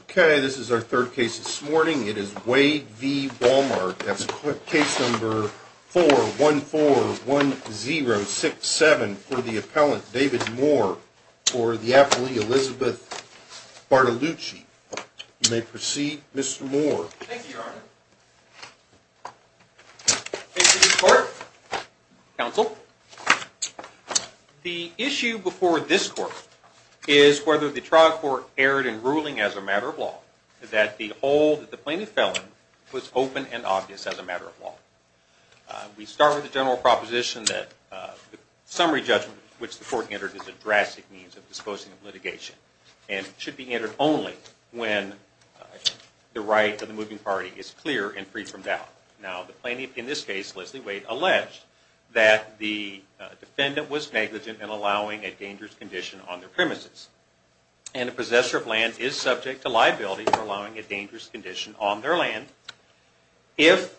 Okay, this is our third case this morning. It is Wade v. Wal-Mart. That's case number 4141067 for the appellant David Moore for the affilee Elizabeth Bartolucci. You may proceed, Mr. Moore. Thank you, Your Honor. The issue before this court is whether the trial court erred in ruling as a matter of law that the plaintiff felon was open and obvious as a matter of law. We start with the general proposition that the summary judgment which the court entered is a drastic means of disposing of litigation and should be entered only when the right of the moving party is clear and free from doubt. Now, the plaintiff in this case, Leslie Wade, alleged that the defendant was negligent in allowing a dangerous condition on their premises. And a possessor of land is subject to liability for allowing a dangerous condition on their land if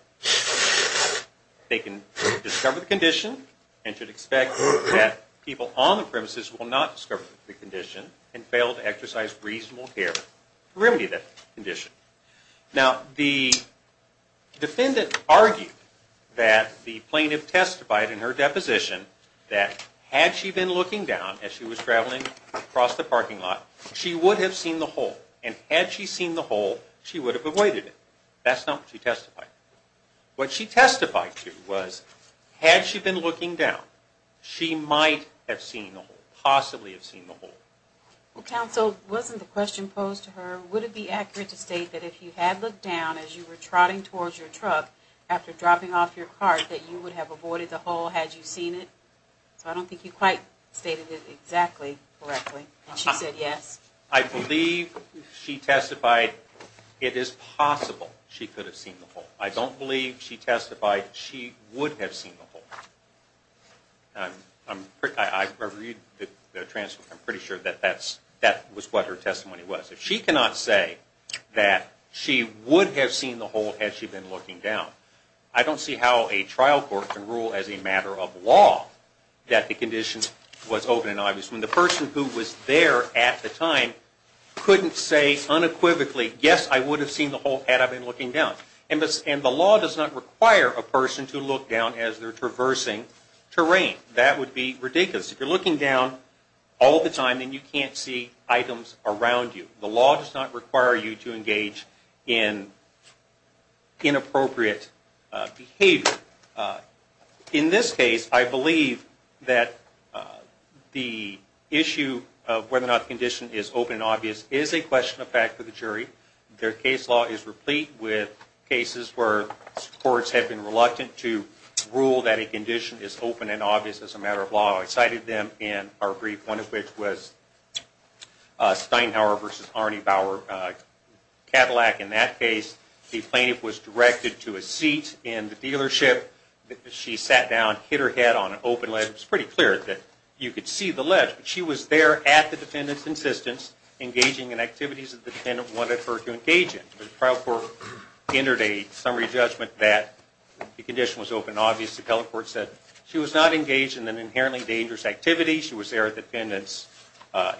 they can discover the condition and should expect that people on the premises will not discover the condition and fail to exercise reasonable care to remedy that condition. Now, the defendant argued that the plaintiff testified in her deposition that had she been looking down as she was traveling across the parking lot, she would have seen the hole. And had she seen the hole, she would have avoided it. That's not what she testified. What she testified to was had she been looking down, she might have seen the hole, possibly have seen the hole. Well, counsel, wasn't the question posed to her, would it be accurate to state that if you had looked down as you were trotting towards your truck after dropping off your cart that you would have avoided the hole had you seen it? So I don't think you quite stated it exactly correctly. And she said yes. I believe she testified it is possible she could have seen the hole. I don't believe she testified she would have seen the hole. I'm pretty sure that that was what her testimony was. She cannot say that she would have seen the hole had she been looking down. I don't see how a trial court can rule as a matter of law that the condition was open and obvious when the person who was there at the time couldn't say unequivocally, yes, I would have seen the hole had I been looking down. And the law does not require a person to look down as they're traversing terrain. That would be ridiculous. If you're looking down all the time, then you can't see items around you. The law does not require you to engage in inappropriate behavior. In this case, I believe that the issue of whether or not the condition is open and obvious is a question of fact for the jury. Their case law is replete with cases where courts have been reluctant to rule that a condition is open and obvious as a matter of law. I cited them in our brief, one of which was Steinhauer v. Arne Bauer Cadillac. In that case, the plaintiff was directed to a seat in the dealership. She sat down, hit her head on an open ledge. It was pretty clear that you could see the ledge. But she was there at the defendant's insistence engaging in activities that the defendant wanted her to engage in. The trial court entered a summary judgment that the condition was open and obvious. The telecourt said she was not engaged in an inherently dangerous activity. She was there at the defendant's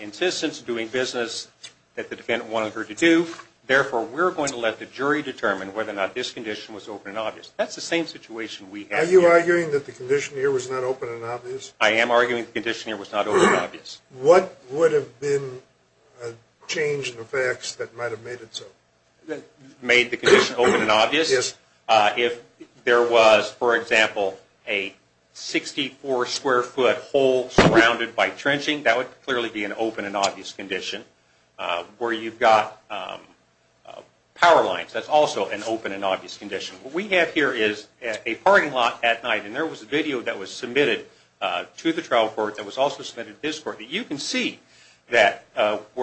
insistence doing business that the defendant wanted her to do. Therefore, we're going to let the jury determine whether or not this condition was open and obvious. That's the same situation we have here. Are you arguing that the condition here was not open and obvious? I am arguing the condition here was not open and obvious. What would have been a change in the facts that might have made it so? That made the condition open and obvious? Yes. If there was, for example, a 64-square-foot hole surrounded by trenching, that would clearly be an open and obvious condition. Where you've got power lines, that's also an open and obvious condition. What we have here is a parking lot at night. There was a video that was submitted to the trial court that was also submitted to this court. You can see where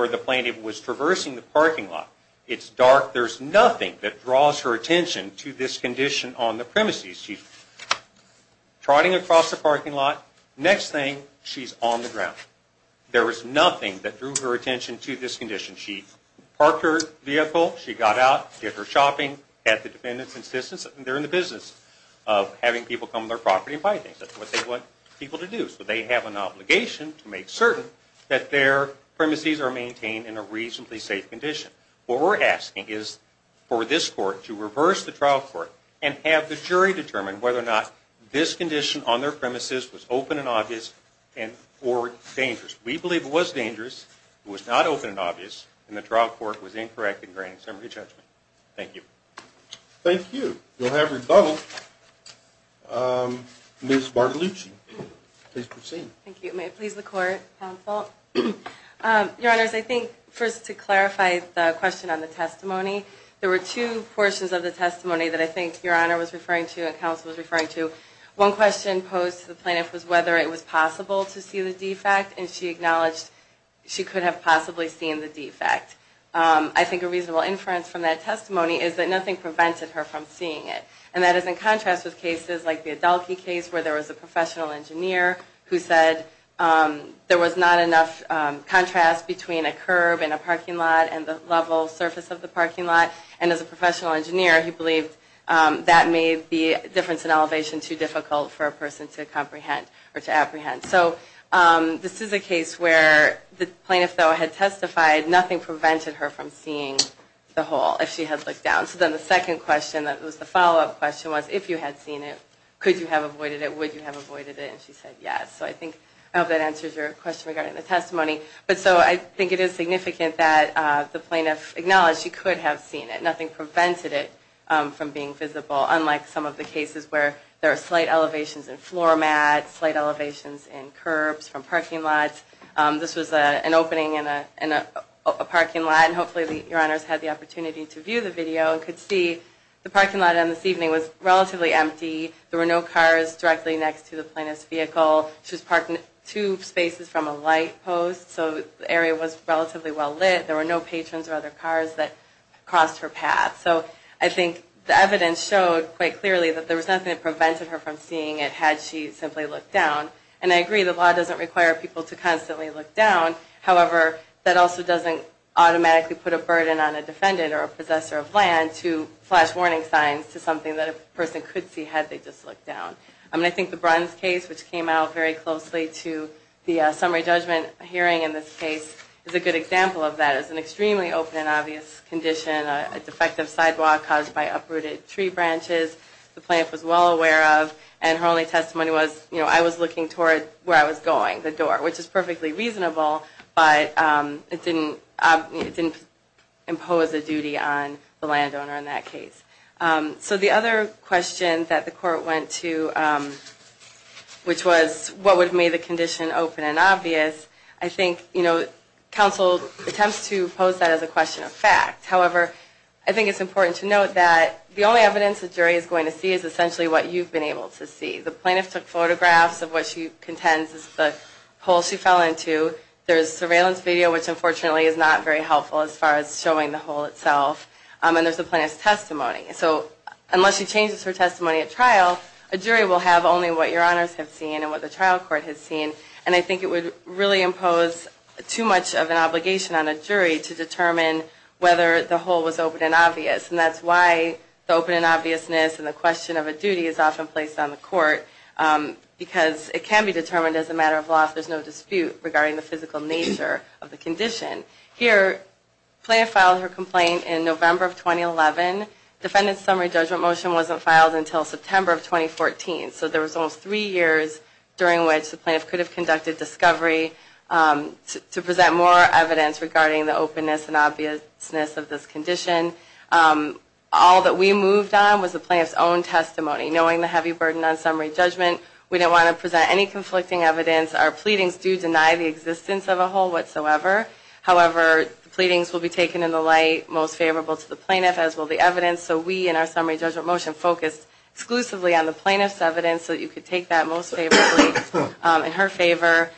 the plaintiff was traversing the parking lot. It's dark. There's nothing that draws her attention to this condition on the premises. She's trotting across the parking lot. Next thing, she's on the ground. There was nothing that drew her attention to this condition. She parked her vehicle. She got out, did her shopping, had the defendant's insistence, and they're in the business of having people come to their property and buy things. That's what they want people to do. So they have an obligation to make certain that their premises are maintained in a reasonably safe condition. What we're asking is for this court to reverse the trial court and have the jury determine whether or not this condition on their premises was open and obvious or dangerous. We believe it was dangerous, it was not open and obvious, and the trial court was incorrect in granting summary judgment. Thank you. Thank you. We'll have rebuttal. Ms. Bartolucci, please proceed. Thank you. May it please the Court, counsel. Your Honors, I think first to clarify the question on the testimony, there were two portions of the testimony that I think Your Honor was referring to and counsel was referring to. One question posed to the plaintiff was whether it was possible to see the defect and she acknowledged she could have possibly seen the defect. I think a reasonable inference from that testimony is that nothing prevented her from seeing it. And that is in contrast with cases like the Adelke case where there was a professional engineer who said there was not enough contrast between a curb and a parking lot and the level surface of the parking lot. And as a professional engineer, he believed that made the difference in elevation too difficult for a person to comprehend or to apprehend. So this is a case where the plaintiff, though, had testified, nothing prevented her from seeing the hole if she had looked down. So then the second question that was the follow-up question was if you had seen it, could you have avoided it, would you have avoided it, and she said yes. So I think that answers your question regarding the testimony. But so I think it is significant that the plaintiff acknowledged she could have seen it. Nothing prevented it from being visible, unlike some of the cases where there are slight elevations in floor mats, slight elevations in curbs from parking lots. This was an opening in a parking lot, and hopefully Your Honors had the opportunity to view the video and could see the parking lot on this evening was relatively empty. There were no cars directly next to the plaintiff's vehicle. She was parking two spaces from a light post, so the area was relatively well lit. There were no patrons or other cars that crossed her path. So I think the evidence showed quite clearly that there was nothing that prevented her from seeing it had she simply looked down. And I agree, the law doesn't require people to constantly look down. However, that also doesn't automatically put a burden on a defendant or a possessor of land to flash warning signs to something that a person could see had they just looked down. And I think the Bruns case, which came out very closely to the summary judgment hearing in this case, is a good example of that. It's an extremely open and obvious condition, a defective sidewalk caused by uprooted tree branches. The plaintiff was well aware of, and her only testimony was, you know, I was looking toward where I was going, the door, which is perfectly reasonable, but it didn't impose a duty on the landowner in that case. So the other question that the court went to, which was, what would make the condition open and obvious, I think, you know, counsel attempts to pose that as a question of fact. However, I think it's important to note that the only evidence the jury is going to see is essentially what you've been able to see. The plaintiff took photographs of what she contends is the hole she fell into. There's surveillance video, which unfortunately is not very helpful as far as showing the hole itself. And there's the plaintiff's testimony. So unless she changes her testimony at trial, a jury will have only what your honors have seen and what the trial court has seen. And I think it would really impose too much of an obligation on a jury to determine whether the hole was open and obvious. And that's why the open and obviousness and the question of a duty is often placed on the court, because it can be determined as a matter of law if there's no dispute regarding the physical nature of the condition. Here, the plaintiff filed her complaint in November of 2011. The defendant's summary judgment motion wasn't filed until September of 2014. So there was almost three years during which the plaintiff could have conducted discovery to present more evidence regarding the openness and obviousness of this condition. All that we moved on was the plaintiff's own testimony. Knowing the heavy burden on summary judgment, we didn't want to present any conflicting evidence. Our pleadings do deny the existence of a hole whatsoever. However, the pleadings will be taken in the light most favorable to the plaintiff, as will the evidence. So we, in our summary judgment motion, focused exclusively on the plaintiff's evidence so that you could take that most favorably in her favor.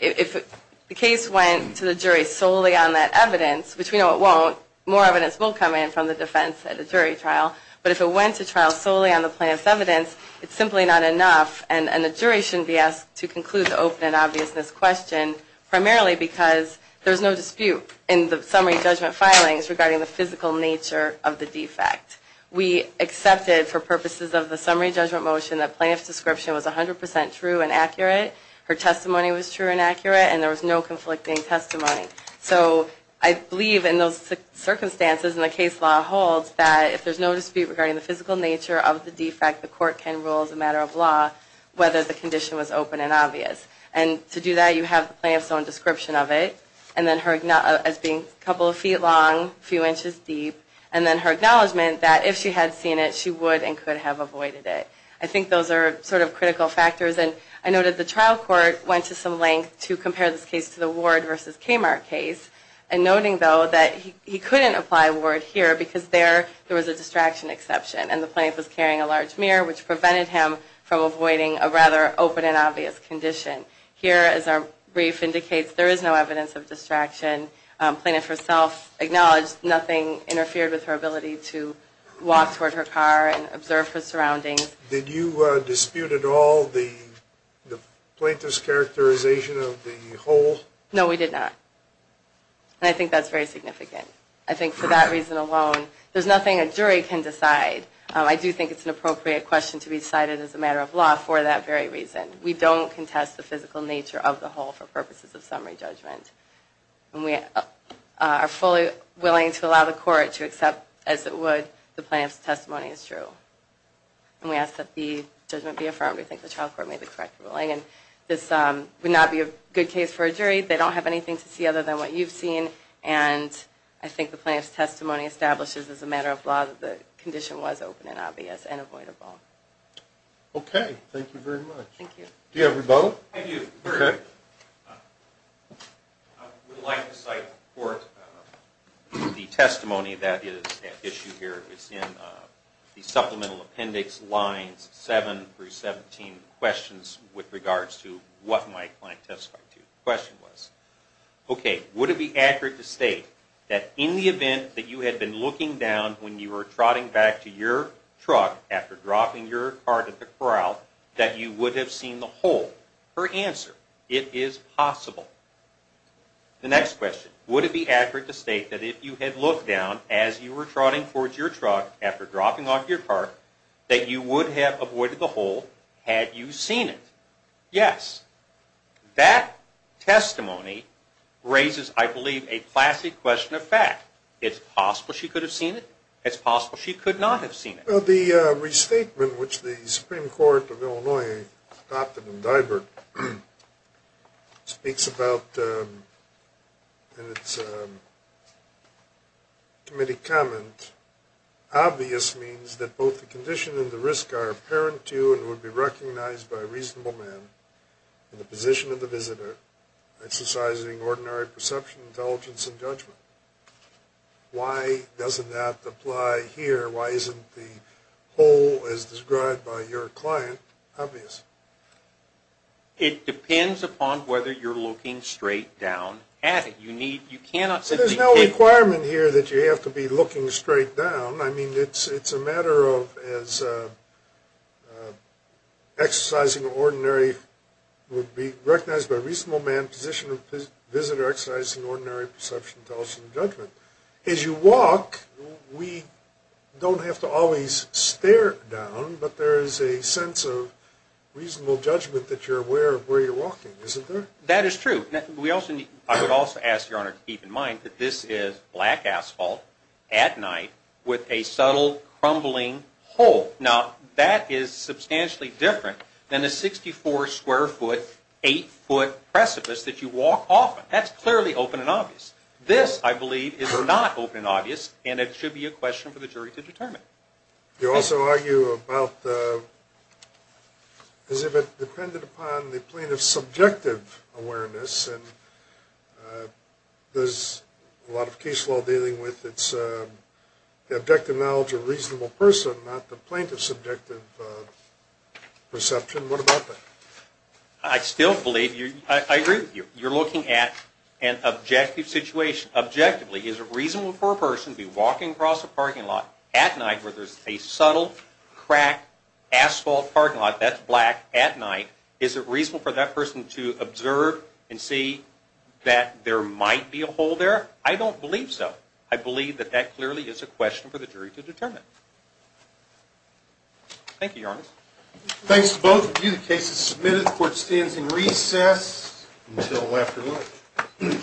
If the case went to the jury solely on that evidence, which we know it won't, more evidence will come in from the defense at a jury trial. But if it went to trial solely on the plaintiff's evidence, it's simply not enough. And the jury shouldn't be asked to conclude the open and obviousness question, primarily because there's no dispute in the summary judgment filings regarding the physical nature of the defect. We accepted, for purposes of the summary judgment motion, that the plaintiff's description was 100% true and accurate, her testimony was true and accurate, and there was no conflicting testimony. So I believe in those circumstances, and the case law holds, that if there's no dispute regarding the physical nature of the defect, the court can rule as a matter of law whether the condition was open and obvious. And to do that, you have the plaintiff's own description of it, as being a couple of feet long, a few inches deep, and then her acknowledgment that if she had seen it, she would and could have avoided it. I think those are sort of critical factors, and I noted the trial court went to some length to compare this case to the Ward v. Kmart case, and noting, though, that he couldn't apply Ward here, because there was a distraction exception, and the plaintiff was carrying a large mirror, which prevented him from avoiding a rather open and obvious condition. Here, as our brief indicates, there is no evidence of distraction. Plaintiff herself acknowledged nothing interfered with her ability to walk toward her car and observe her surroundings. Did you dispute at all the plaintiff's characterization of the hole? No, we did not. And I think that's very significant. I think for that reason alone, there's nothing a jury can decide. I do think it's an appropriate question to be decided as a matter of law for that very reason. We don't contest the physical nature of the hole for purposes of summary judgment. And we are fully willing to allow the court to accept, as it would, the plaintiff's testimony as true. And we ask that the judgment be affirmed. We think the trial court made the correct ruling. And this would not be a good case for a jury. They don't have anything to see other than what you've seen, and I think the plaintiff's testimony establishes, as a matter of law, that the condition was open and obvious and avoidable. Okay. Thank you very much. Thank you. Do you have a rebuttal? I do. Okay. I would like to cite the testimony that is at issue here. It's in the supplemental appendix lines 7 through 17, questions with regards to what my client testified to. The question was, okay, would it be accurate to state that in the event that you had been looking down when you were trotting back to your truck after dropping your cart at the corral, that you would have seen the hole? Her answer, it is possible. The next question, would it be accurate to state that if you had looked down as you were trotting towards your truck after dropping off your cart, that you would have avoided the hole had you seen it? Yes. That testimony raises, I believe, a classy question of fact. It's possible she could have seen it. It's possible she could not have seen it. The restatement, which the Supreme Court of Illinois adopted in Dibert, speaks about in its committee comment, obvious means that both the condition and the risk are apparent to you that it would be recognized by a reasonable man in the position of the visitor exercising ordinary perception, intelligence, and judgment. Why doesn't that apply here? Why isn't the hole as described by your client obvious? It depends upon whether you're looking straight down at it. You need, you cannot simply take. There's no requirement here that you have to be looking straight down. I mean, it's a matter of exercising ordinary, would be recognized by a reasonable man in the position of the visitor exercising ordinary perception, intelligence, and judgment. As you walk, we don't have to always stare down, but there is a sense of reasonable judgment that you're aware of where you're walking, isn't there? That is true. I would also ask your Honor to keep in mind that this is black asphalt at night with a subtle crumbling hole. Now, that is substantially different than a 64-square-foot, 8-foot precipice that you walk off of. That's clearly open and obvious. This, I believe, is not open and obvious, and it should be a question for the jury to determine. You also argue about as if it depended upon the plaintiff's subjective awareness, and there's a lot of case law dealing with the objective knowledge of a reasonable person, not the plaintiff's subjective perception. What about that? I still believe, I agree with you. You're looking at an objective situation. Objectively, is it reasonable for a person to be walking across a parking lot at night where there's a subtle, cracked asphalt parking lot that's black at night? Is it reasonable for that person to observe and see that there might be a hole there? I don't believe so. I believe that that clearly is a question for the jury to determine. Thank you, Your Honor. Thanks to both of you. The case is submitted. The court stands in recess until after lunch.